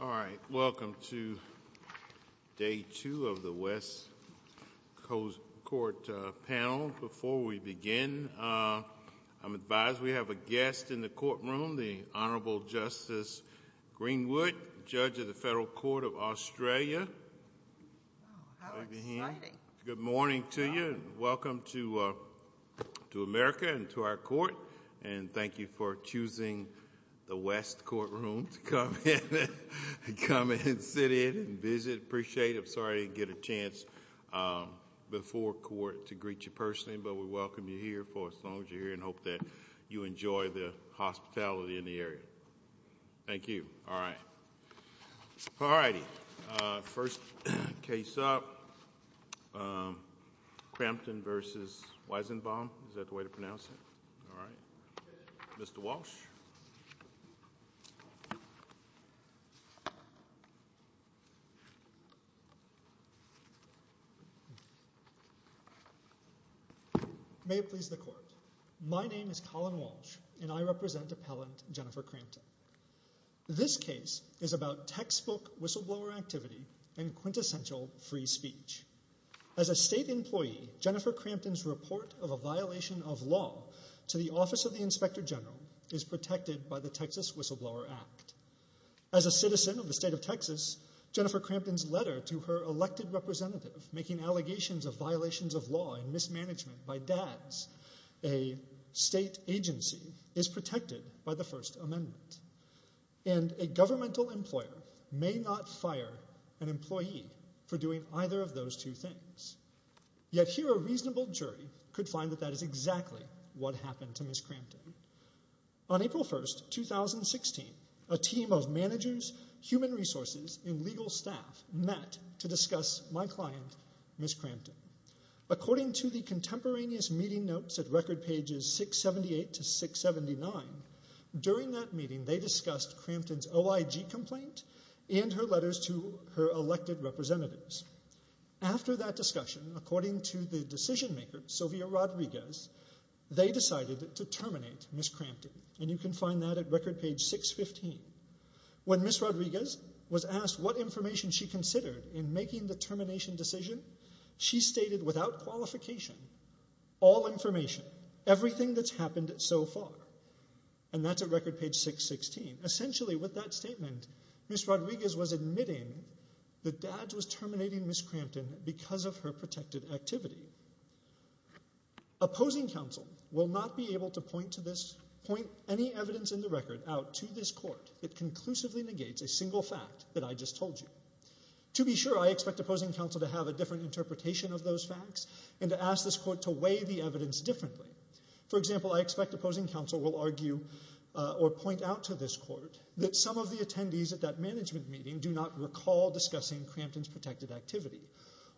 All right, welcome to day two of the West Coast Court panel. Before we begin, I'm advised we have a guest in the courtroom, the Honorable Justice Greenwood, Judge of the Federal Court of Australia. Good morning to you. Welcome to America and to our court. And thank you for choosing the West Courtroom to come in and sit in and visit. I appreciate it. I'm sorry I didn't get a chance before court to greet you personally, but we welcome you here for as long as you're here and hope that you enjoy the hospitality in the area. Thank you. All right. All righty. First case up, Crampton v. Weizenbaum. Is that the way to pronounce it? All right. Mr. Walsh. May it please the court. My name is Colin Walsh and I represent appellant Jennifer Crampton. This case is about textbook whistleblower activity and quintessential free speech. As a state employee, Jennifer Crampton's report of a violation of law to the Office of the Inspector General is protected by the Texas Whistleblower Act. As a citizen of the state of Texas, Jennifer Crampton's letter to her elected representative making allegations of violations of law and mismanagement by dads, a state agency, is protected by the First Amendment. And a governmental employer may not fire an employee for doing either of those two things. Yet here a reasonable jury could find that that is exactly what happened to Ms. Crampton. On April 1, 2016, a team of managers, human resources, and legal staff met to discuss my client, Ms. Crampton. According to the contemporaneous meeting notes at record pages 678 to 679, during that meeting they discussed Crampton's OIG complaint and her letters to her elected representatives. After that discussion, according to the decision maker, Sylvia Rodriguez, they decided to terminate Ms. Crampton. And you can find that at record page 615. When Ms. Rodriguez was asked what information she considered in making the termination decision, she stated without qualification, all information, everything that's happened so far. And that's at record page 616. Essentially with that statement, Ms. Rodriguez was admitting that dads was terminating Ms. Crampton because of her protected activity. Opposing counsel will not be able to point any evidence in the record out to this court that conclusively negates a single fact that I just told you. To be sure, I expect opposing counsel to have a different interpretation of those facts and to ask this court to weigh the evidence differently. For example, I expect opposing counsel will argue or point out to this court that some of the attendees at that management meeting do not recall discussing Crampton's protected activity.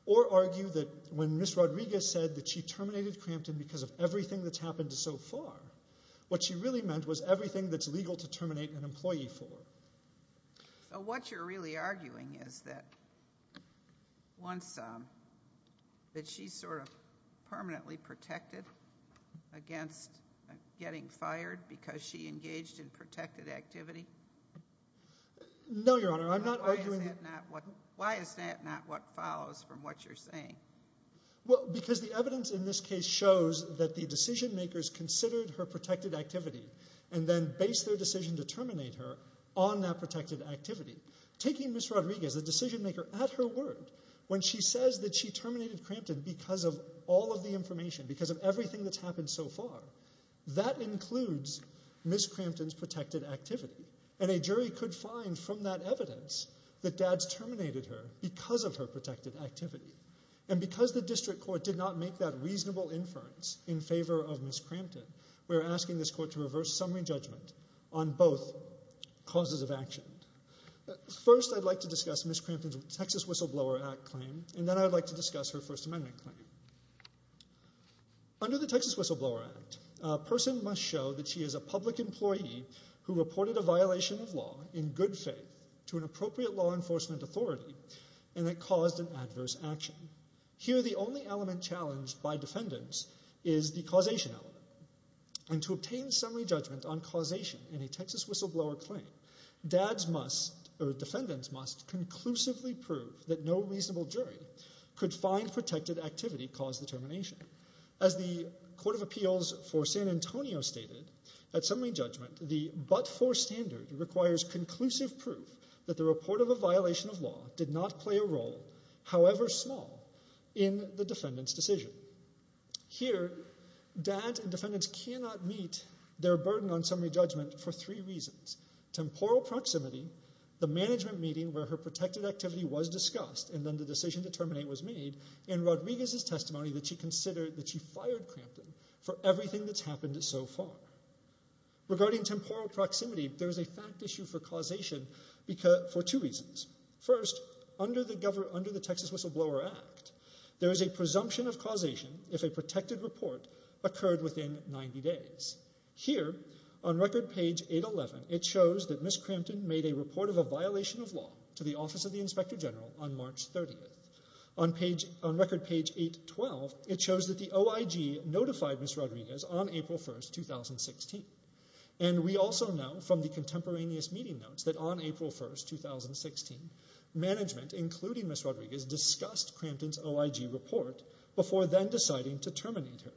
Or argue that when Ms. Rodriguez said that she terminated Crampton because of everything that's happened so far, what she really meant was everything that's legal to terminate an employee for. So what you're really arguing is that she's sort of permanently protected against getting fired because she engaged in protected activity? No, Your Honor, I'm not arguing... Why is that not what follows from what you're saying? Well, because the evidence in this case shows that the decision makers considered her protected on that protected activity. Taking Ms. Rodriguez, the decision maker, at her word, when she says that she terminated Crampton because of all of the information, because of everything that's happened so far, that includes Ms. Crampton's protected activity. And a jury could find from that evidence that Dad's terminated her because of her protected activity. And because the district court did not make that reasonable inference in favor of Ms. First, I'd like to discuss Ms. Crampton's Texas Whistleblower Act claim, and then I'd like to discuss her First Amendment claim. Under the Texas Whistleblower Act, a person must show that she is a public employee who reported a violation of law in good faith to an appropriate law enforcement authority and that caused an adverse action. Here, the only element challenged by defendants is the causation element. And to obtain summary judgment on causation in a Texas Whistleblower claim defendants must conclusively prove that no reasonable jury could find protected activity caused the termination. As the Court of Appeals for San Antonio stated, at summary judgment the but-for standard requires conclusive proof that the report of a violation of law did not play a role, however small, in the defendant's decision. Here, dad and defendants cannot meet their burden on summary judgment for three reasons. Temporal proximity, the management meeting where her protected activity was discussed and then the decision to terminate was made, and Rodriguez's testimony that she considered that she fired Crampton for everything that's happened so far. Regarding temporal proximity, there is a fact issue for causation for two reasons. First, under the Texas Whistleblower Act, there is a presumption of causation if a protected report occurred within 90 days. Here, on record page 811, it shows that Ms. Crampton made a report of a violation of law to the Office of the Inspector General on March 30th. On record page 812, it shows that the OIG notified Ms. Rodriguez on April 1st, 2016. And we also know from the contemporaneous meeting notes that on April 1st, 2016, management, including Ms. Rodriguez, discussed Crampton's OIG report before then deciding to terminate her.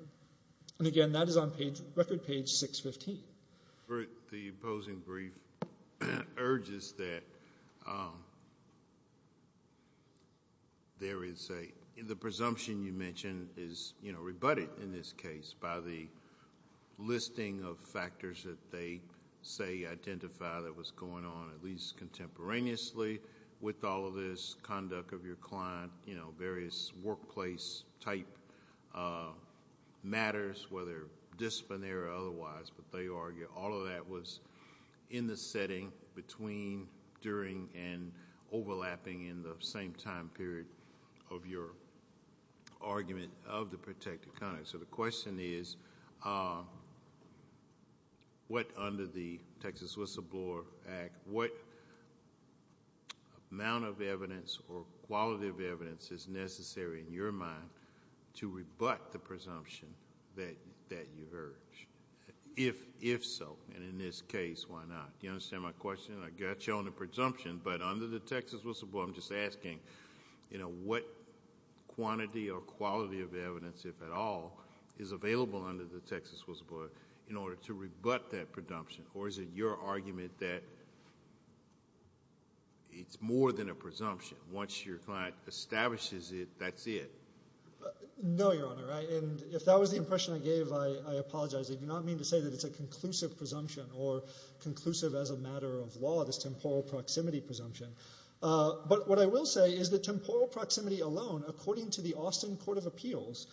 And again, that is on record page 615. The opposing brief urges that there is a, the presumption you mentioned is rebutted in this case by the listing of factors that they say identify that was going on at least contemporaneously with all of this conduct of your client, you know, various workplace type matters, whether disciplinary or otherwise, but they argue all of that was in the setting between, during, and overlapping in the same time period of your argument of the protected conduct. So the question is, what under the Texas Whistleblower Act, what amount of evidence or quality of evidence is necessary in your mind to rebut the presumption that you've urged? If so, and in this case, why not? Do you understand my question? I got you on the presumption, but under the Texas Whistleblower, I'm just asking, you know, what quantity or quality of evidence, if at all, is available under the Texas Whistleblower in order to rebut that presumption? Or is it your argument that it's more than a presumption? Once your client establishes it, that's it? No, Your Honor. And if that was the impression I gave, I apologize. I do not mean to say that it's a conclusive presumption or conclusive as a matter of law, this temporal proximity presumption. But what I will say is that temporal proximity alone, according to the Austin Court of Appeals,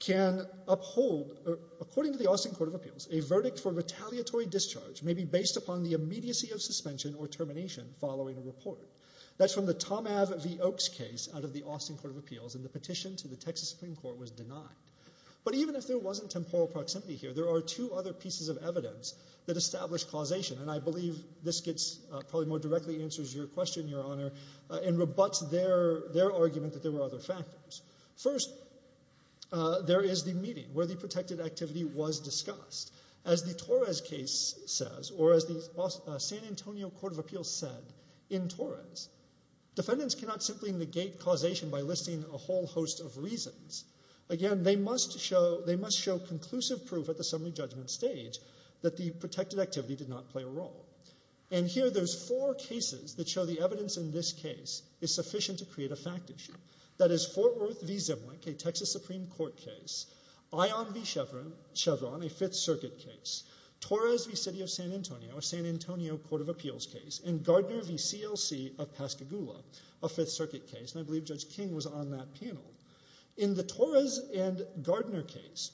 can uphold, according to the Austin Court of Appeals, a verdict for retaliatory discharge may be based upon the immediacy of suspension or termination following a report. That's from the Tom Ave v. Oakes case out of the Austin Court of Appeals, and the petition to the Texas Supreme Court was denied. But even if there wasn't temporal proximity here, there are two other pieces of evidence that establish causation, and I believe this probably more directly answers your question, Your Honor, and rebuts their argument that there were other factors. First, there is the meeting where the protected activity was discussed. As the Torres case says, or as the San Antonio Court of Appeals said in Torres, defendants cannot simply negate causation by listing a whole host of reasons. Again, they must show conclusive proof at the summary judgment stage that the protected activity did not play a role. And here there are four cases that show the evidence in this case is sufficient to create a fact issue. That is Fort Worth v. Zimwick, a Texas Supreme Court case, Ion v. Chevron, a Fifth Circuit case, Torres v. City of San Antonio, a San Antonio Court of Appeals case, and Gardner v. CLC of Pascagoula, a Fifth Circuit case, and I believe Judge King was on that panel. In the Torres and Gardner case,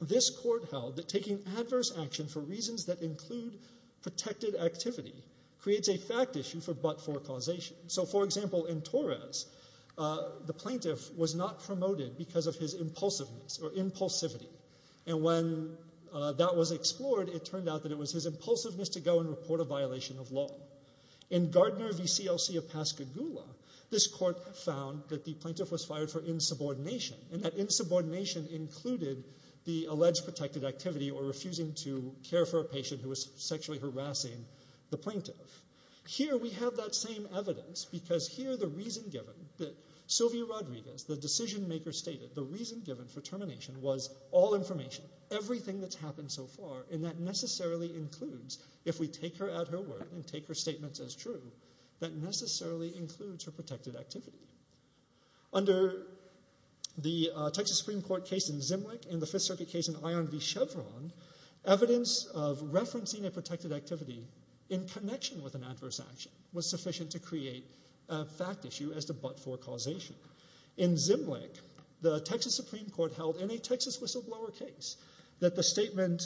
this court held that taking adverse action for reasons that include protected activity creates a fact issue for but-for causation. So, for example, in Torres, the plaintiff was not promoted because of his impulsiveness or impulsivity, and when that was explored, it turned out that it was his impulsiveness to go and report a violation of law. In Gardner v. CLC of Pascagoula, this court found that the plaintiff was fired for insubordination, and that insubordination included the alleged protected activity or refusing to care for a patient who was sexually harassing the plaintiff. Here we have that same evidence because here the reason given that Sylvia Rodriguez, the decision maker stated, the reason given for termination was all information, everything that's happened so far, and that necessarily includes, if we take her at her word and take her statements as true, that necessarily includes her protected activity. Under the Texas Supreme Court case in Zimlick and the Fifth Circuit case in Ion v. Chevron, evidence of referencing a protected activity in connection with an adverse action was sufficient to create a fact issue as to but-for causation. In Zimlick, the Texas Supreme Court held in a Texas whistleblower case that the statement,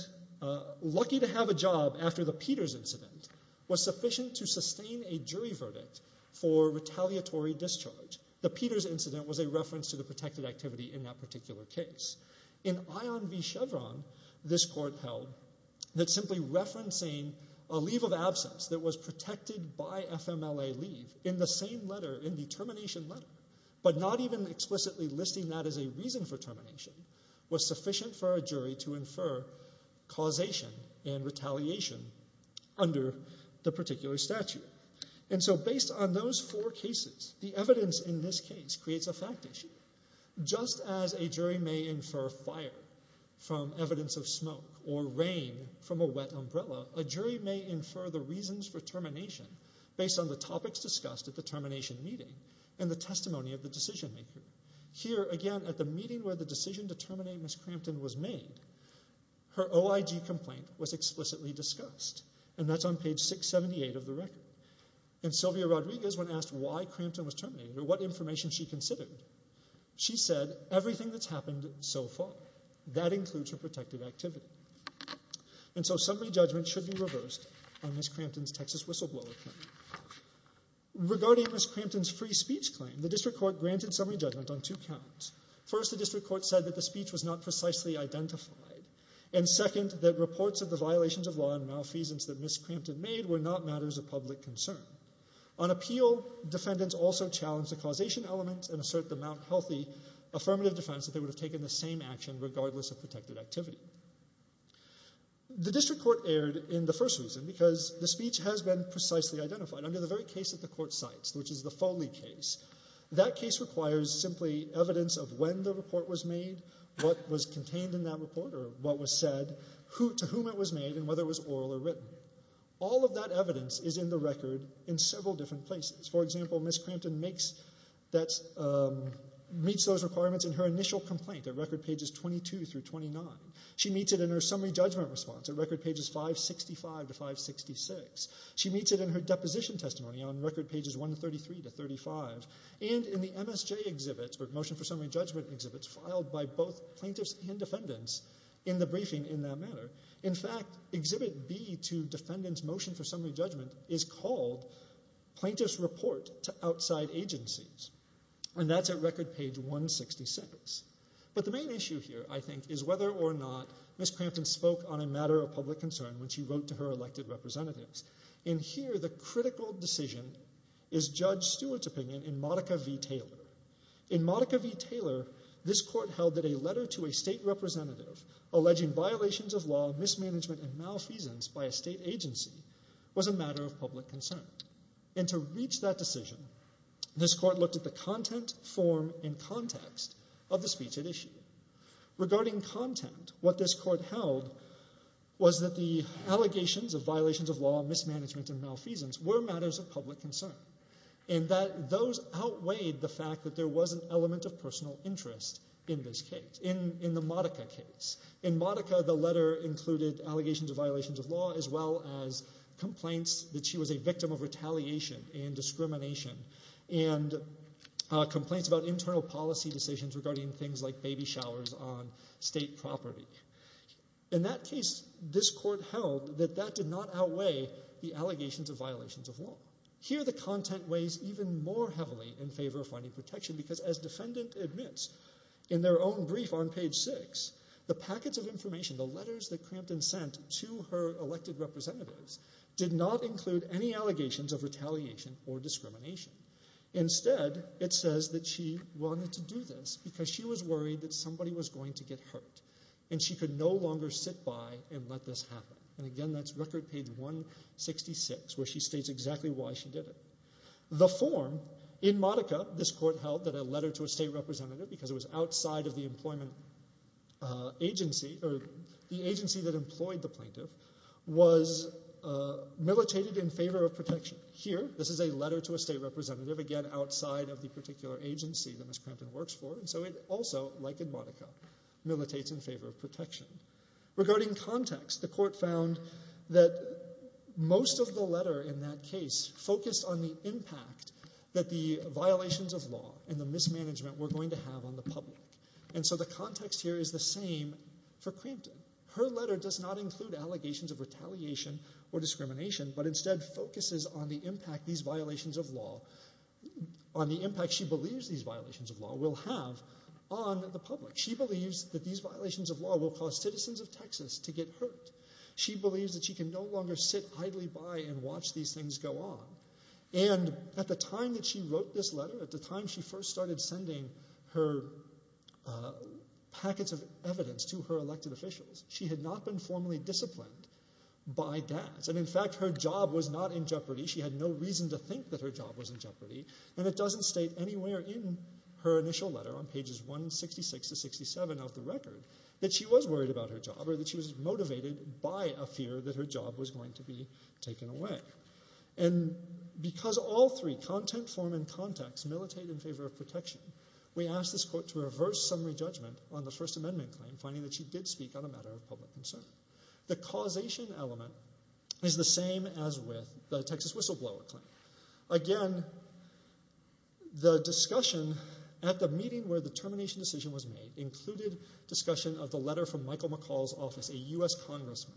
lucky to have a job after the Peters incident, was sufficient to sustain a jury verdict for retaliatory discharge. The Peters incident was a reference to the protected activity in that particular case. In Ion v. Chevron, this court held that simply referencing a leave of absence that was protected by FMLA leave in the same letter, in the termination letter, but not even explicitly listing that as a reason for termination, was sufficient for a jury to infer causation and retaliation under the particular statute. So based on those four cases, the evidence in this case creates a fact issue. Just as a jury may infer fire from evidence of smoke or rain from a wet umbrella, a jury may infer the reasons for termination based on the topics discussed at the termination meeting and the testimony of the decision maker. Here, again, at the meeting where the decision to terminate Ms. Crampton was made, her OIG complaint was explicitly discussed, and that's on page 678 of the record. And Sylvia Rodriguez, when asked why Crampton was terminated or what information she considered, she said, everything that's happened so far. That includes her protected activity. And so summary judgment should be reversed on Ms. Crampton's Texas whistleblower claim. Regarding Ms. Crampton's free speech claim, the district court granted summary judgment on two counts. First, the district court said that the speech was not precisely identified, and second, that reports of the violations of law and malfeasance that Ms. Crampton made were not matters of public concern. On appeal, defendants also challenged the causation element and asserted the Mount Healthy affirmative defense that they would have taken the same action regardless of protected activity. The district court erred in the first reason, because the speech has been precisely identified under the very case that the court cites, which is the Foley case. That case requires simply evidence of when the report was made, what was contained in that report or what was said, to whom it was made, and whether it was oral or written. All of that evidence is in the record in several different places. For example, Ms. Crampton meets those requirements in her initial complaint at record pages 22 through 29. She meets it in her summary judgment response at record pages 565 to 566. She meets it in her deposition testimony on record pages 133 to 35, and in the MSJ exhibits, or motion for summary judgment exhibits, filed by both plaintiffs and defendants in the briefing in that manner. In fact, exhibit B to defendants' motion for summary judgment is called Plaintiff's Report to Outside Agencies, and that's at record page 166. But the main issue here, I think, is whether or not Ms. Crampton spoke on a matter of public concern when she wrote to her elected representatives. In here, the critical decision is Judge Stewart's opinion in Modica v. Taylor. In Modica v. Taylor, this court held that a letter to a state representative alleging violations of law, mismanagement, and malfeasance by a state agency was a matter of public concern. And to reach that decision, this court looked at the content, form, and context of the speech at issue. Regarding content, what this court held was that the allegations of violations of law, mismanagement, and malfeasance were matters of public concern, and that those outweighed the fact that there was an element of personal interest in this case, in the Modica case. In Modica, the letter included allegations of violations of law as well as complaints that she was a victim of retaliation and discrimination, and complaints about internal policy decisions regarding things like baby showers on state property. In that case, this court held that that did not outweigh the allegations of violations of law. Here, the content weighs even more heavily in favor of finding protection, because as defendant admits in their own brief on page 6, the packets of information, the letters that Crampton sent to her elected representatives, did not include any allegations of retaliation or discrimination. Instead, it says that she wanted to do this because she was worried that somebody was going to get hurt, and she could no longer sit by and let this happen. And again, that's record page 166, where she states exactly why she did it. The form, in Modica, this court held that a letter to a state plaintiff was militated in favor of protection. Here, this is a letter to a state representative, again, outside of the particular agency that Ms. Crampton works for, and so it also, like in Modica, militates in favor of protection. Regarding context, the court found that most of the letter in that case focused on the impact that the violations of law and the mismanagement were going to have on the public. And so the context here is the same for Crampton. Her letter does not include allegations of retaliation or discrimination, but instead focuses on the impact these violations of law, on the impact she believes these violations of law will have on the public. She believes that these violations of law will cause citizens of Texas to get hurt. She believes that she can no longer sit idly by and watch these things go on. And at the time that she wrote this letter, at the time she first started sending her packets of evidence to her elected officials, she had not been formally disciplined by that. And in fact, her job was not in jeopardy. She had no reason to think that her job was in jeopardy. And it doesn't state anywhere in her initial letter on pages 166 to 67 of the record that she was worried about her job or that she was motivated by a fear that her job was going to be taken away. And because all three, content, form, and context, militate in favor of protection, we ask this court to reverse summary judgment on the First Amendment claim, finding that she did speak on a matter of public concern. The causation element is the same as with the Texas whistleblower claim. Again, the discussion at the meeting where the termination decision was made included discussion of the letter from Michael McCall's office, a U.S. congressman.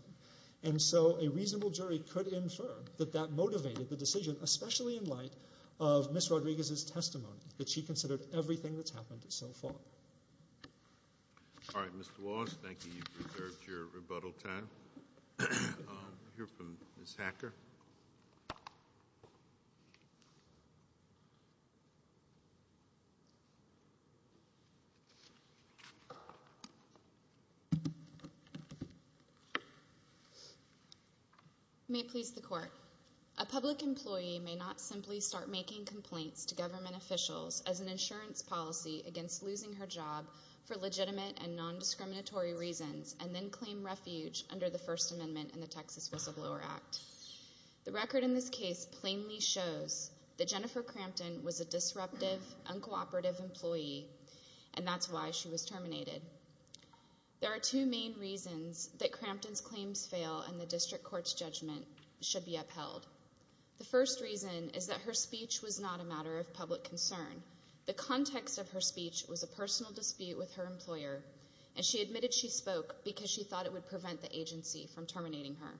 And so a reasonable jury could infer that that motivated the decision, especially in light of Ms. Rodriguez's testimony, that she considered everything that's happened so far. All right. Mr. Wallace, thank you. You've reserved your rebuttal time. We'll hear from Ms. Hacker. May it please the court. A public employee may not simply start making complaints to government officials as an insurance policy against losing her job for legitimate and nondiscriminatory reasons and then claim refuge under the First Amendment and the Texas Whistleblower Act. The record in this case plainly shows that Jennifer Crampton was a disruptive, uncooperative employee, and that's why she was terminated. There are two main reasons that Crampton's claims fail and the district court's judgment should be upheld. The first reason is that her speech was not a matter of public concern. The context of her speech was a personal dispute with her employer, and she admitted she spoke because she thought it would prevent the agency from terminating her.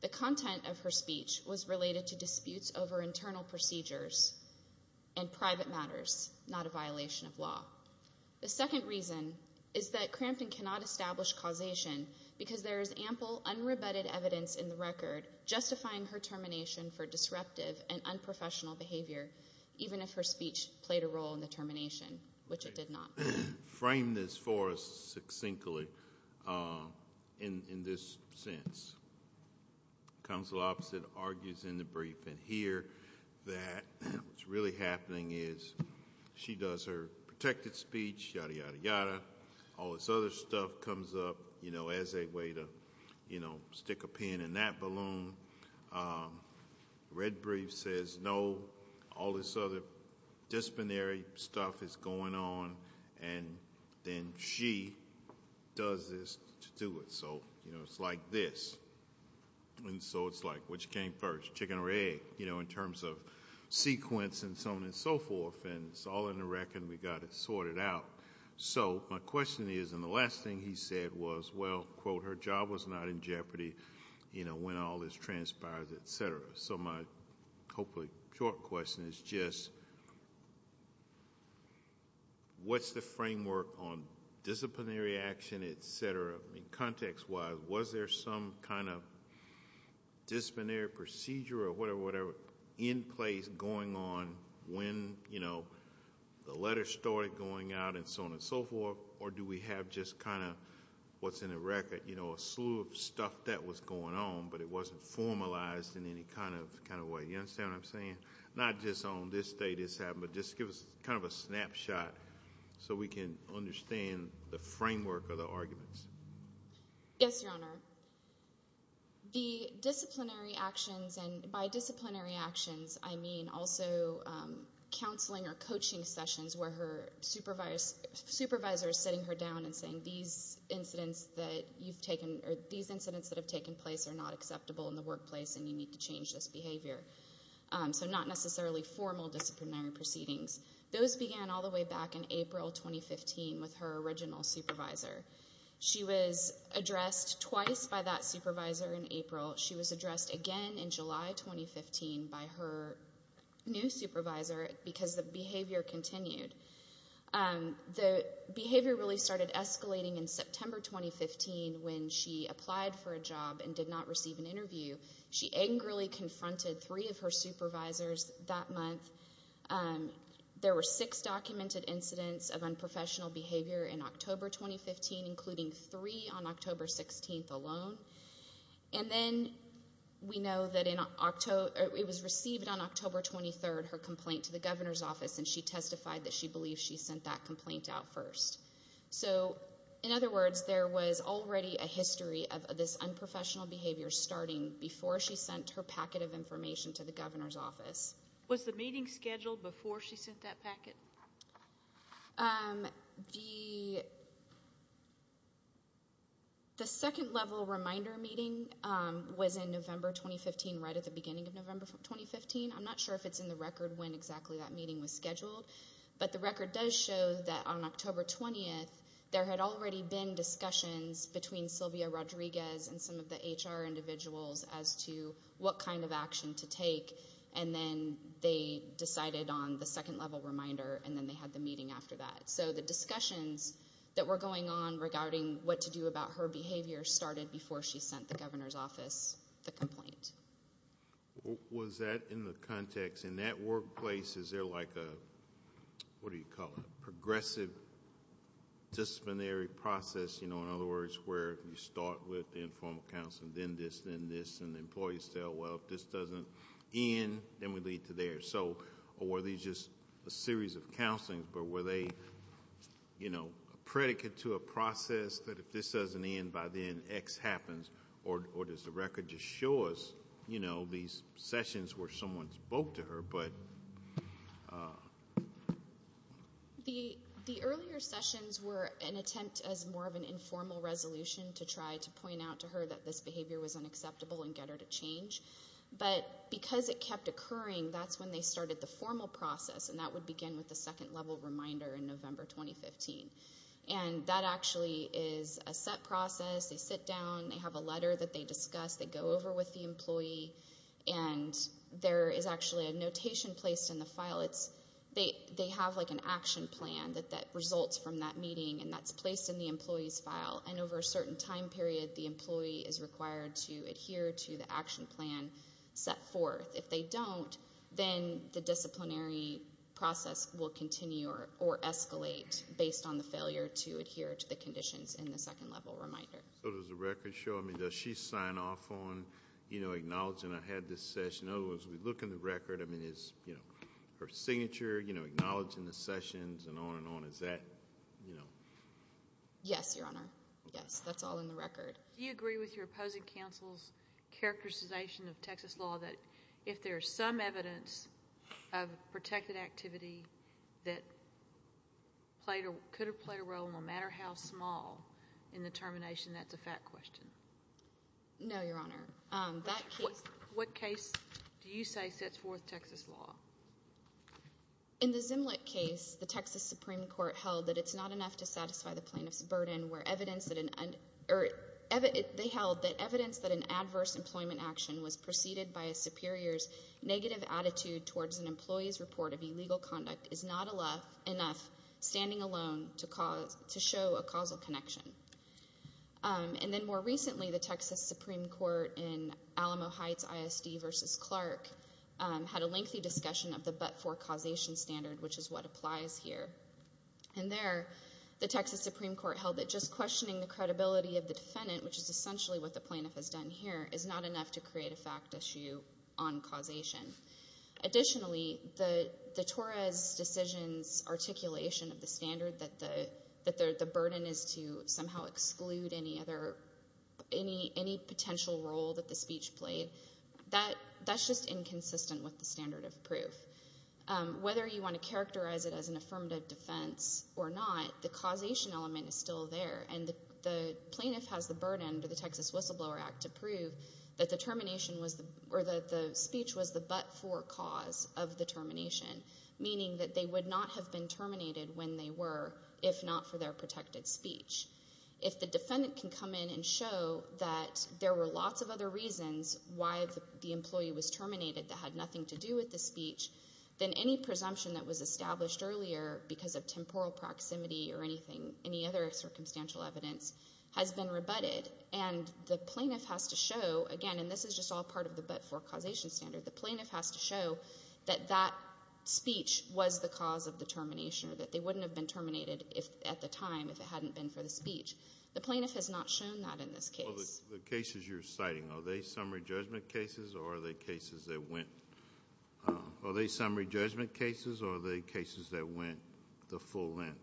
The content of her speech was related to disputes over internal procedures and private matters, not a violation of law. The second reason is that Crampton cannot establish causation because there is ample unrebutted evidence in the record justifying her termination for disruptive and unprofessional behavior, even if her speech played a role in the termination, which it did not. Frame this for us succinctly in this sense. Counsel opposite argues in the brief in here that what's really happening is she does her protected speech, yada, yada, yada, all this other stuff comes up as a way to stick a pin in that balloon. Red brief says no, all this other disciplinary stuff is going on, and then she does this to do it. So it's like this, and so it's like which came first, chicken or egg, in terms of sequence and so on and so forth. And it's all in the record, and we've got it sorted out. So my question is, and the last thing he said was, well, quote, her job was not in jeopardy when all this transpires, et cetera. So my hopefully short question is just what's the framework on disciplinary action, et cetera? Context-wise, was there some kind of disciplinary procedure or whatever, in place going on when the letter started going out and so on and so forth, or do we have just kind of what's in the record, a slew of stuff that was going on, but it wasn't formalized in any kind of way, you understand what I'm saying? Not just on this day this happened, but just give us kind of a snapshot so we can understand the framework of the arguments. Yes, Your Honor. The disciplinary actions, and by disciplinary actions I mean also counseling or coaching sessions where her supervisor is sitting her down and saying these incidents that you've taken or these incidents that have taken place are not acceptable in the workplace and you need to change this behavior. So not necessarily formal disciplinary proceedings. Those began all the way back in April 2015 with her original supervisor. She was addressed twice by that supervisor in April. She was addressed again in July 2015 by her new supervisor because the behavior continued. The behavior really started escalating in September 2015 when she applied for a job and did not receive an interview. She angrily confronted three of her supervisors that month. There were six documented incidents of unprofessional behavior in October 2015, including three on October 16th alone. And then we know that it was received on October 23rd, her complaint to the governor's office, and she testified that she believed she sent that complaint out first. So, in other words, there was already a history of this unprofessional behavior starting before she sent her packet of information to the governor's office. Was the meeting scheduled before she sent that packet? The second level reminder meeting was in November 2015, right at the beginning of November 2015. I'm not sure if it's in the record when exactly that meeting was scheduled, but the record does show that on October 20th, there had already been discussions between Sylvia Rodriguez and some of the HR individuals as to what kind of action to take, and then they decided on the second level reminder, and then they had the meeting after that. So the discussions that were going on regarding what to do about her behavior started before she sent the governor's office the complaint. Was that in the context, in that workplace, is there like a, what do you call it, progressive disciplinary process, you know, in other words, where you start with the informal counseling, then this, then this, and the employees tell, well, if this doesn't end, then we lead to theirs. So, or were these just a series of counselings, but were they, you know, a predicate to a process that if this doesn't end by then, X happens, or does the record just show us, you know, these sessions where someone spoke to her, but? The earlier sessions were an attempt as more of an informal resolution to try to point out to her that this behavior was unacceptable and get her to change, but because it kept occurring, that's when they started the formal process, and that would begin with the second level reminder in November 2015. And that actually is a set process. They sit down. They have a letter that they discuss. They go over with the employee, and there is actually a notation placed in the file. It's, they have like an action plan that results from that meeting, and that's placed in the employee's file, and over a certain time period, the employee is required to adhere to the action plan set forth. If they don't, then the disciplinary process will continue or escalate based on the failure to adhere to the conditions in the second level reminder. So does the record show, I mean, does she sign off on, you know, acknowledging I had this session? In other words, we look in the record. I mean, is, you know, her signature, you know, acknowledging the sessions and on and on. Is that, you know? Yes, that's all in the record. Do you agree with your opposing counsel's characterization of Texas law that if there is some evidence of protected activity that could have played a role, no matter how small in the termination, that's a fact question? No, Your Honor. What case do you say sets forth Texas law? In the Zimlet case, the Texas Supreme Court held that it's not enough to satisfy the plaintiff's burden where evidence that an, or they held that evidence that an adverse employment action was preceded by a superior's negative attitude towards an employee's report of illegal conduct is not enough standing alone to show a causal connection. And then more recently, the Texas Supreme Court in Alamo Heights ISD v. Clark had a lengthy discussion of the but-for causation standard, which is what applies here. And there, the Texas Supreme Court held that just questioning the credibility of the defendant, which is essentially what the plaintiff has done here, is not enough to create a fact issue on causation. Additionally, the Torres decision's articulation of the standard, that the burden is to somehow exclude any other, any potential role that the speech played, that's just inconsistent with the standard of proof. Whether you want to characterize it as an affirmative defense or not, the causation element is still there. And the plaintiff has the burden under the Texas Whistleblower Act to prove that the termination was, or that the speech was the but-for cause of the termination, meaning that they would not have been terminated when they were if not for their protected speech. If the defendant can come in and show that there were lots of other reasons why the employee was terminated that had nothing to do with the speech, then any presumption that was established earlier because of temporal proximity or anything, any other circumstantial evidence, has been rebutted. And the plaintiff has to show, again, and this is just all part of the but-for causation standard, the plaintiff has to show that that speech was the cause of the termination, or that they wouldn't have been terminated at the time if it hadn't been for the speech. The plaintiff has not shown that in this case. The cases you're citing, are they summary judgment cases or are they cases that went the full length?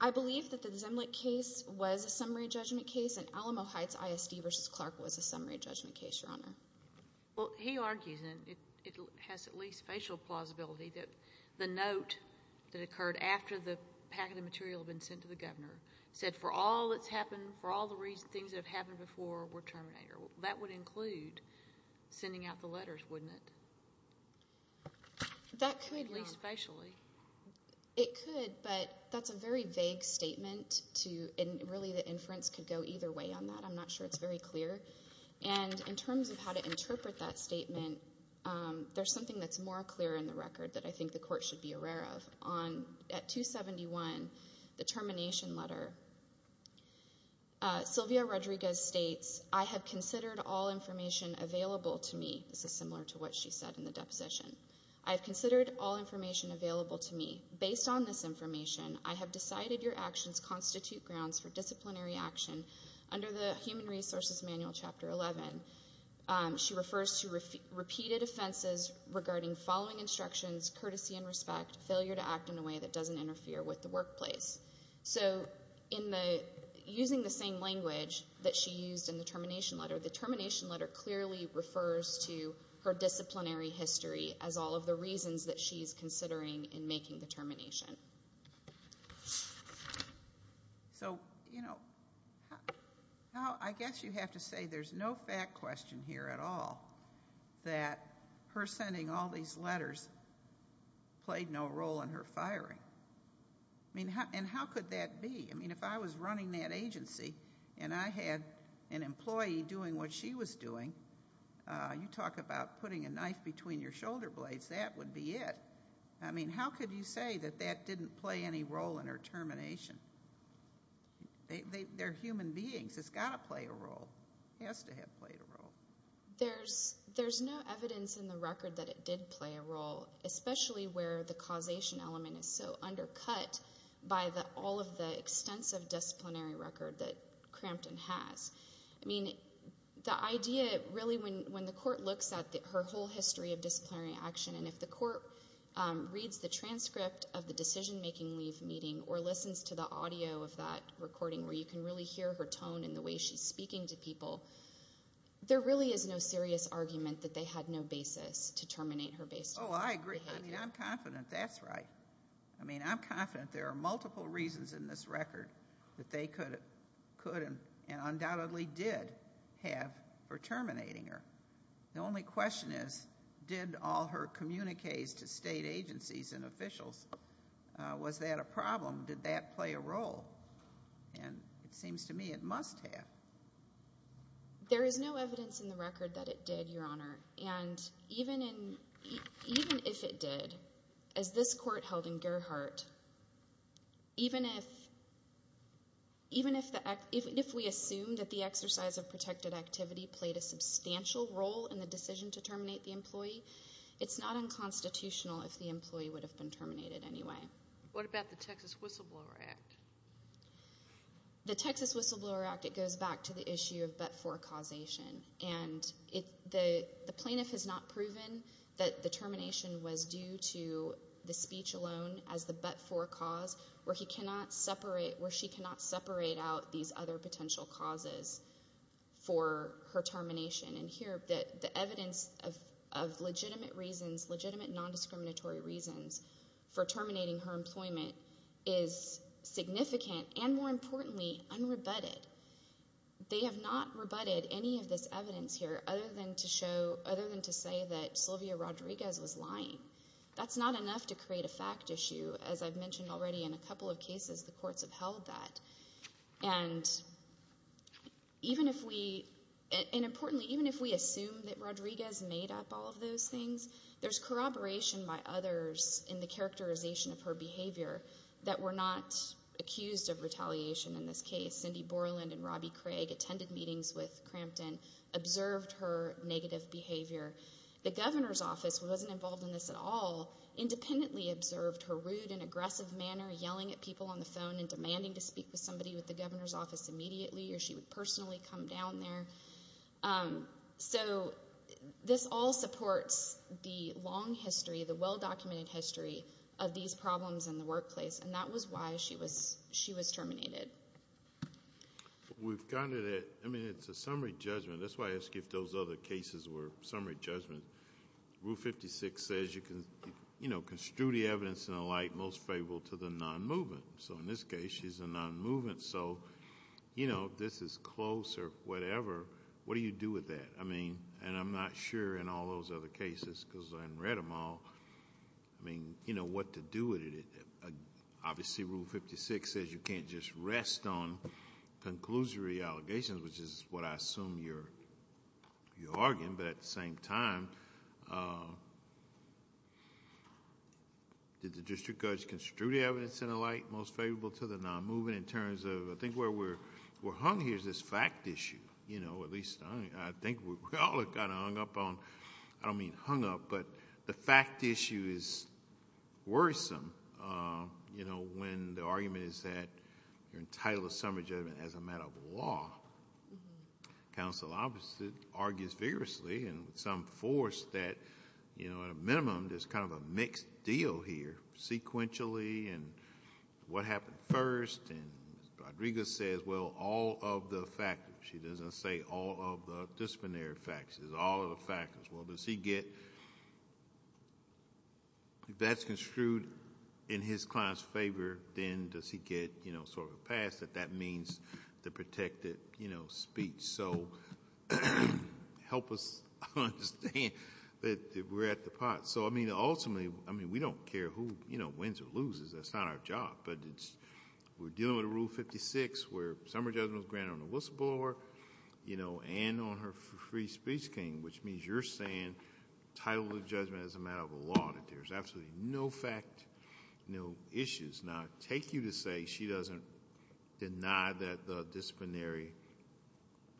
I believe that the Zimlick case was a summary judgment case and Alamo Heights ISD v. Clark was a summary judgment case, Your Honor. Well, he argues, and it has at least facial plausibility, that the note that occurred after the packet of material had been sent to the governor said for all that's happened, for all the things that have happened before were terminated. That would include sending out the letters, wouldn't it? That could. At least facially. It could, but that's a very vague statement, and really the inference could go either way on that. I'm not sure it's very clear. And in terms of how to interpret that statement, there's something that's more clear in the record that I think the Court should be aware of. At 271, the termination letter, Sylvia Rodriguez states, I have considered all information available to me. This is similar to what she said in the deposition. I have considered all information available to me. Based on this information, I have decided your actions constitute grounds for disciplinary action. Under the Human Resources Manual, Chapter 11, she refers to repeated offenses regarding following instructions, courtesy and respect, failure to act in a way that doesn't interfere with the workplace. So using the same language that she used in the termination letter, the termination letter clearly refers to her disciplinary history as all of the reasons that she's considering in making the termination. So, you know, I guess you have to say there's no fact question here at all that her sending all these letters played no role in her firing. I mean, and how could that be? I mean, if I was running that agency and I had an employee doing what she was doing, you talk about putting a knife between your shoulder blades, that would be it. I mean, how could you say that that didn't play any role in her termination? They're human beings. It's got to play a role. It has to have played a role. There's no evidence in the record that it did play a role, especially where the causation element is so undercut by all of the extensive disciplinary record that Crampton has. I mean, the idea really when the court looks at her whole history of disciplinary action and if the court reads the transcript of the decision-making leave meeting or listens to the audio of that recording where you can really hear her tone and the way she's speaking to people, there really is no serious argument that they had no basis to terminate her based on that behavior. Oh, I agree. I mean, I'm confident that's right. I mean, I'm confident there are multiple reasons in this record that they could and undoubtedly did have for terminating her. The only question is did all her communiques to state agencies and officials, was that a problem? Did that play a role? And it seems to me it must have. There is no evidence in the record that it did, Your Honor, and even if it did, as this court held in Gerhart, even if we assume that the exercise of protected activity played a substantial role in the decision to terminate the employee, it's not unconstitutional if the employee would have been terminated anyway. What about the Texas Whistleblower Act? The Texas Whistleblower Act, it goes back to the issue of but-for causation, and the plaintiff has not proven that the termination was due to the speech alone as the but-for cause where she cannot separate out these other potential causes for her termination. And here the evidence of legitimate reasons, legitimate nondiscriminatory reasons for terminating her employment is significant and more importantly unrebutted. They have not rebutted any of this evidence here other than to show, other than to say that Sylvia Rodriguez was lying. That's not enough to create a fact issue. As I've mentioned already in a couple of cases, the courts have held that. And importantly, even if we assume that Rodriguez made up all of those things, there's corroboration by others in the characterization of her behavior that we're not accused of retaliation in this case. Cindy Borland and Robbie Craig attended meetings with Crampton, observed her negative behavior. The governor's office wasn't involved in this at all, independently observed her rude and aggressive manner, yelling at people on the phone and demanding to speak with somebody with the governor's office immediately or she would personally come down there. So this all supports the long history, the well-documented history, of these problems in the workplace, and that was why she was terminated. We've gotten to that. I mean, it's a summary judgment. That's why I ask you if those other cases were summary judgments. Rule 56 says you can construe the evidence in a light most favorable to the non-movement. So in this case, she's a non-movement. So, you know, this is close or whatever. What do you do with that? I mean, and I'm not sure in all those other cases because I haven't read them all. I mean, you know what to do with it. Obviously, Rule 56 says you can't just rest on conclusory allegations, which is what I assume you're arguing, but at the same time, did the district judge construe the evidence in a light most favorable to the non-movement in terms of I think where we're hung here is this fact issue. You know, at least I think we're all kind of hung up on... I don't mean hung up, but the fact issue is worrisome, you know, when the argument is that you're entitled to summary judgment as a matter of law. Counsel obviously argues vigorously and with some force that, you know, at a minimum there's kind of a mixed deal here sequentially and what happened first. And Rodriguez says, well, all of the factors. She doesn't say all of the disciplinary factors, all of the factors. Well, does he get... if that's construed in his client's favor, then does he get sort of a pass that that means the protected speech? So help us understand that we're at the pot. So, I mean, ultimately, we don't care who wins or loses. That's not our job. But we're dealing with Rule 56 where summary judgment was granted on the whistleblower and on her free speech claim, which means you're saying title of judgment as a matter of law. There's absolutely no fact, no issues. Now, take you to say she doesn't deny that the disciplinary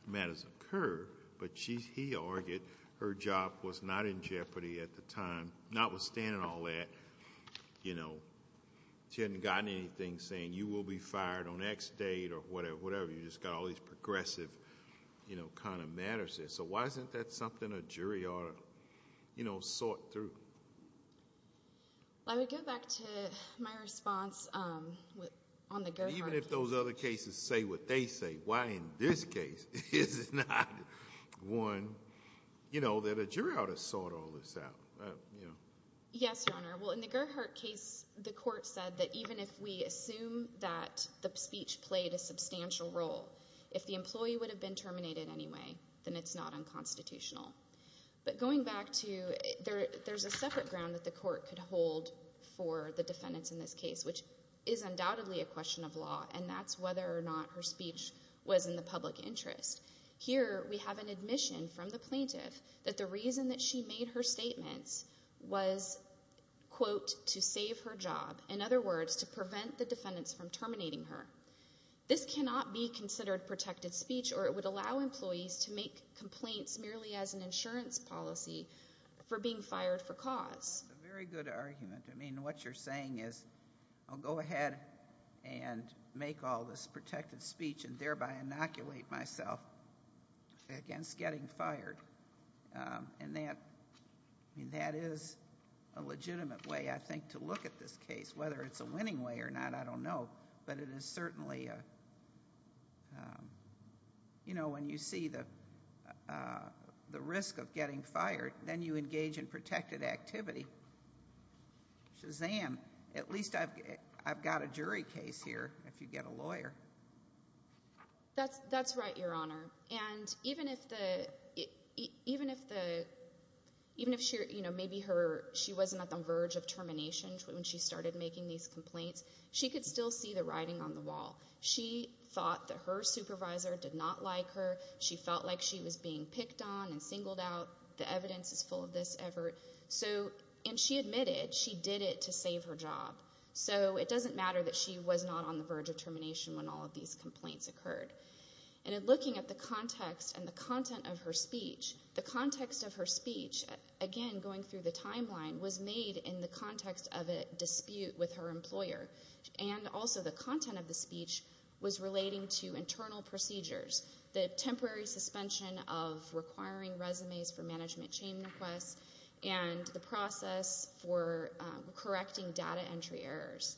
matters occur, but he argued her job was not in jeopardy at the time, notwithstanding all that. You know, she hadn't gotten anything saying you will be fired on X date or whatever. You just got all these progressive, you know, kind of matters there. So why isn't that something a jury ought to, you know, sort through? I would go back to my response on the Gerhart case. Even if those other cases say what they say, why in this case is it not one, you know, that a jury ought to sort all this out, you know? Yes, Your Honor. Well, in the Gerhart case, the court said that even if we assume that the speech played a substantial role, if the employee would have been terminated anyway, then it's not unconstitutional. But going back to there's a separate ground that the court could hold for the defendants in this case, which is undoubtedly a question of law, and that's whether or not her speech was in the public interest. Here we have an admission from the plaintiff that the reason that she made her statements was, quote, to save her job, in other words, to prevent the defendants from terminating her. This cannot be considered protected speech, or it would allow employees to make complaints merely as an insurance policy for being fired for cause. It's a very good argument. I mean, what you're saying is I'll go ahead and make all this protected speech and thereby inoculate myself against getting fired. And that is a legitimate way, I think, to look at this case. Whether it's a winning way or not, I don't know. But it is certainly, you know, when you see the risk of getting fired, then you engage in protected activity. Shazam. At least I've got a jury case here if you get a lawyer. That's right, Your Honor. And even if she wasn't at the verge of termination when she started making these complaints, she could still see the writing on the wall. She thought that her supervisor did not like her. She felt like she was being picked on and singled out. The evidence is full of this effort. And she admitted she did it to save her job. So it doesn't matter that she was not on the verge of termination when all of these complaints occurred. And in looking at the context and the content of her speech, the context of her speech, again, going through the timeline, was made in the context of a dispute with her employer. And also the content of the speech was relating to internal procedures, the temporary suspension of requiring resumes for management chain requests and the process for correcting data entry errors.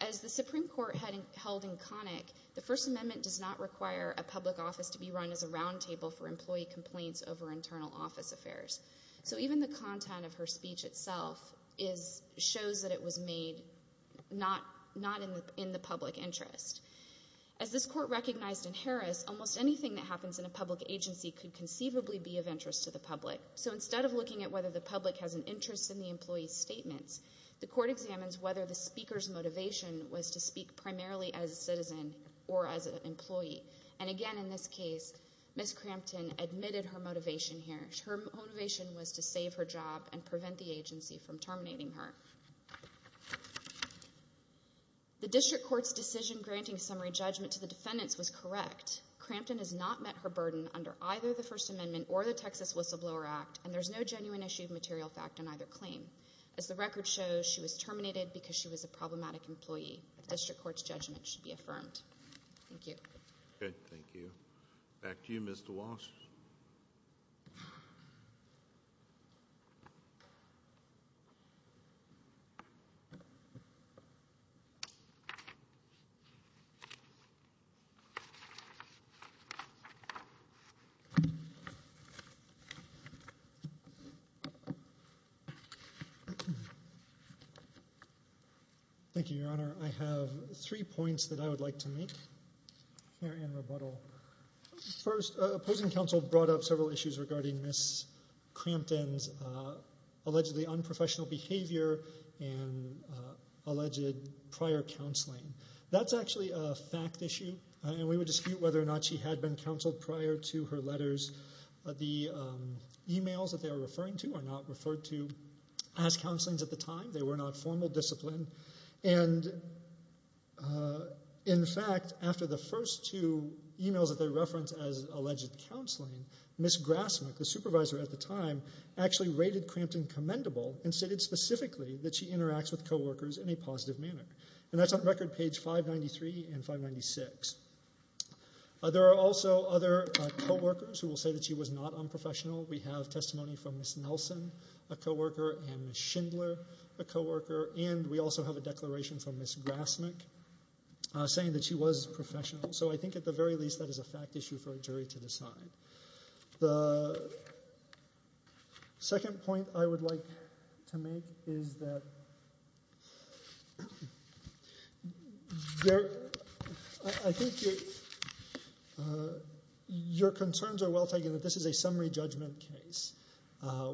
As the Supreme Court held in Connick, the First Amendment does not require a public office to be run as a roundtable for employee complaints over internal office affairs. So even the content of her speech itself shows that it was made not in the public interest. As this court recognized in Harris, almost anything that happens in a public agency could conceivably be of interest to the public. So instead of looking at whether the public has an interest in the employee's statements, the court examines whether the speaker's motivation was to speak primarily as a citizen or as an employee. And again, in this case, Ms. Crampton admitted her motivation here. Her motivation was to save her job and prevent the agency from terminating her. The district court's decision granting summary judgment to the defendants was correct. Crampton has not met her burden under either the First Amendment or the Texas Whistleblower Act, and there's no genuine issue of material fact on either claim. As the record shows, she was terminated because she was a problematic employee. The district court's judgment should be affirmed. Thank you. Thank you. Back to you, Mr. Walsh. I have three points that I would like to make here in rebuttal. First, opposing counsel brought up several issues regarding Ms. Crampton's allegedly unprofessional behavior and alleged prior counseling. That's actually a fact issue, and we would dispute whether or not she had been counseled prior to her letters. The e-mails that they were referring to are not referred to as counselings at the time. They were not formal discipline. In fact, after the first two e-mails that they referenced as alleged counseling, Ms. Grasmick, the supervisor at the time, actually rated Crampton commendable and stated specifically that she interacts with co-workers in a positive manner. That's on record page 593 and 596. There are also other co-workers who will say that she was not unprofessional. We have testimony from Ms. Nelson, a co-worker, and Ms. Schindler, a co-worker, and we also have a declaration from Ms. Grasmick saying that she was professional. So I think at the very least that is a fact issue for a jury to decide. The second point I would like to make is that I think your concerns are well taken that this is a summary judgment case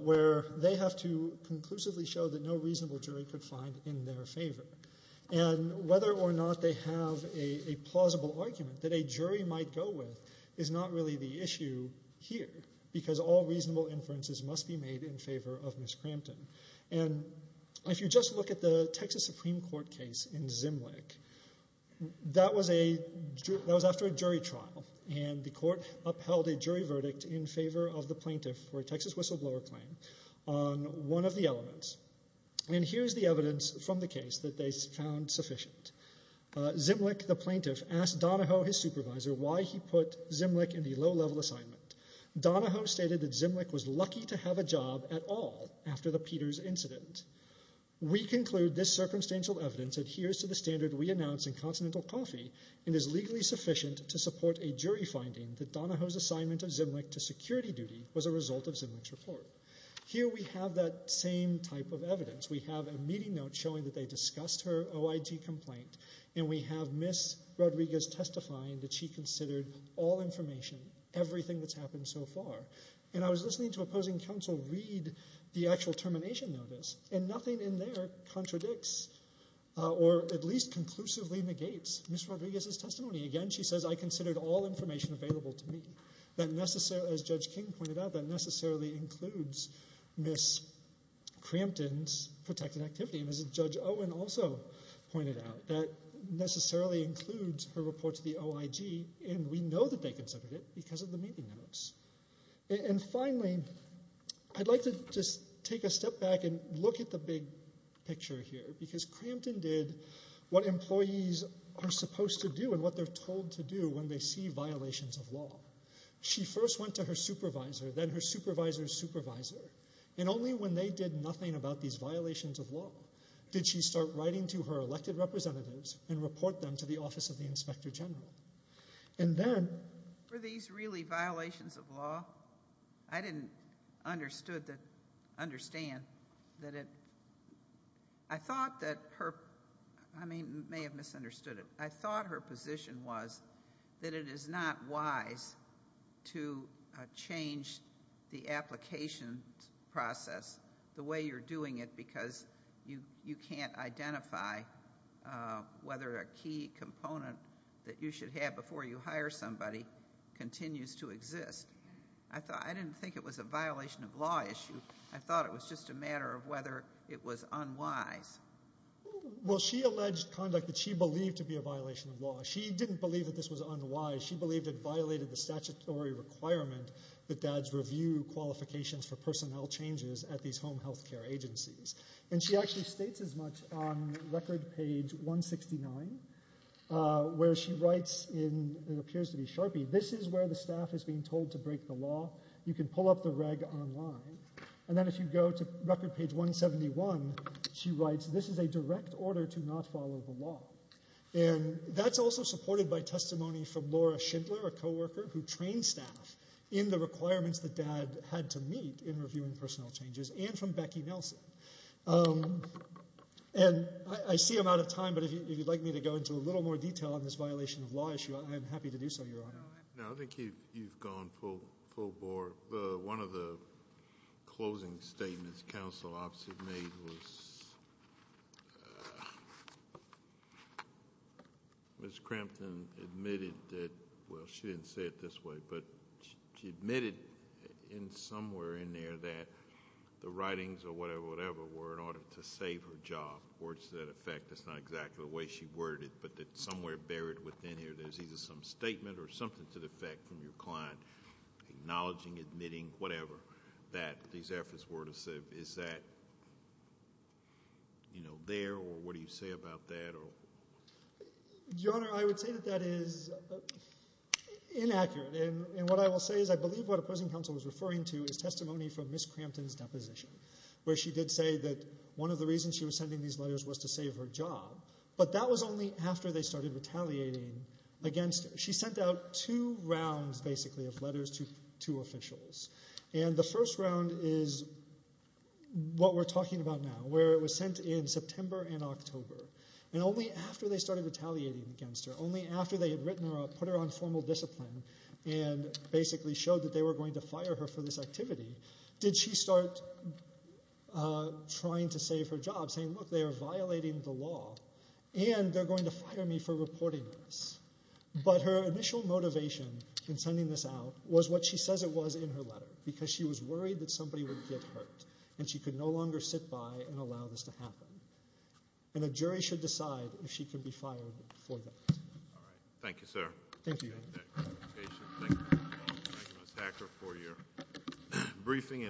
where they have to conclusively show that no reasonable jury could find in their favor, and whether or not they have a plausible argument that a jury might go with is not really the issue here because all reasonable inferences must be made in favor of Ms. Crampton. If you just look at the Texas Supreme Court case in Zimlick, that was after a jury trial, and the court upheld a jury verdict in favor of the plaintiff for a Texas whistleblower claim on one of the elements. Here's the evidence from the case that they found sufficient. Zimlick, the plaintiff, asked Donahoe, his supervisor, why he put Zimlick in the low-level assignment. Donahoe stated that Zimlick was lucky to have a job at all after the Peters incident. We conclude this circumstantial evidence adheres to the standard we announce in Continental Coffee and is legally sufficient to support a jury finding that Donahoe's assignment of Zimlick to security duty was a result of Zimlick's report. Here we have that same type of evidence. We have a meeting note showing that they discussed her OIG complaint, and we have Ms. Rodriguez testifying that she considered all information, everything that's happened so far. I was listening to opposing counsel read the actual termination notice, and nothing in there contradicts or at least conclusively negates Ms. Rodriguez's testimony. Again, she says, I considered all information available to me. As Judge King pointed out, that necessarily includes Ms. Crampton's protected activity, and as Judge Owen also pointed out, that necessarily includes her report to the OIG, and we know that they considered it because of the meeting notes. Finally, I'd like to just take a step back and look at the big picture here because Crampton did what employees are supposed to do and what they're told to do when they see violations of law. She first went to her supervisor, then her supervisor's supervisor, and only when they did nothing about these violations of law did she start writing to her elected representatives and report them to the Office of the Inspector General. And then- Were these really violations of law? I didn't understand that it- I thought that her- I may have misunderstood it. I thought her position was that it is not wise to change the application process the way you're doing it because you can't identify whether a key component that you should have before you hire somebody continues to exist. I thought- I didn't think it was a violation of law issue. I thought it was just a matter of whether it was unwise. Well, she alleged conduct that she believed to be a violation of law. She didn't believe that this was unwise. She believed it violated the statutory requirement that dads review qualifications for personnel changes at these home health care agencies. And she actually states as much on record page 169 where she writes in- it appears to be sharpie- this is where the staff is being told to break the law. You can pull up the reg online. And then if you go to record page 171, she writes, this is a direct order to not follow the law. And that's also supported by testimony from Laura Schindler, a co-worker, who trained staff in the requirements that dad had to meet in reviewing personnel changes and from Becky Nelson. And I see I'm out of time, but if you'd like me to go into a little more detail on this violation of law issue, I'm happy to do so, Your Honor. No, I think you've gone full bore. One of the closing statements counsel obviously made was- Ms. Crampton admitted that- well, she didn't say it this way, but she admitted in somewhere in there that the writings or whatever were in order to save her job. Words to that effect. That's not exactly the way she worded it, but that somewhere buried within here, there's either some statement or something to the effect from your client acknowledging, admitting, whatever, that these efforts were to save- is that there, or what do you say about that? Your Honor, I would say that that is inaccurate. And what I will say is I believe what opposing counsel was referring to is testimony from Ms. Crampton's deposition, where she did say that one of the reasons she was sending these letters was to save her job, but that was only after they started retaliating against her. She sent out two rounds, basically, of letters to officials. And the first round is what we're talking about now, where it was sent in September and October. And only after they started retaliating against her, only after they had written her up, put her on formal discipline and basically showed that they were going to fire her for this activity, did she start trying to save her job, saying, look, they are violating the law and they're going to fire me for reporting this. But her initial motivation in sending this out was what she says it was in her letter, because she was worried that somebody would get hurt and she could no longer sit by and allow this to happen. And a jury should decide if she can be fired for that. All right. Thank you, sir. Thank you. Thank you. Thank you, Ms. Hacker, for your briefing.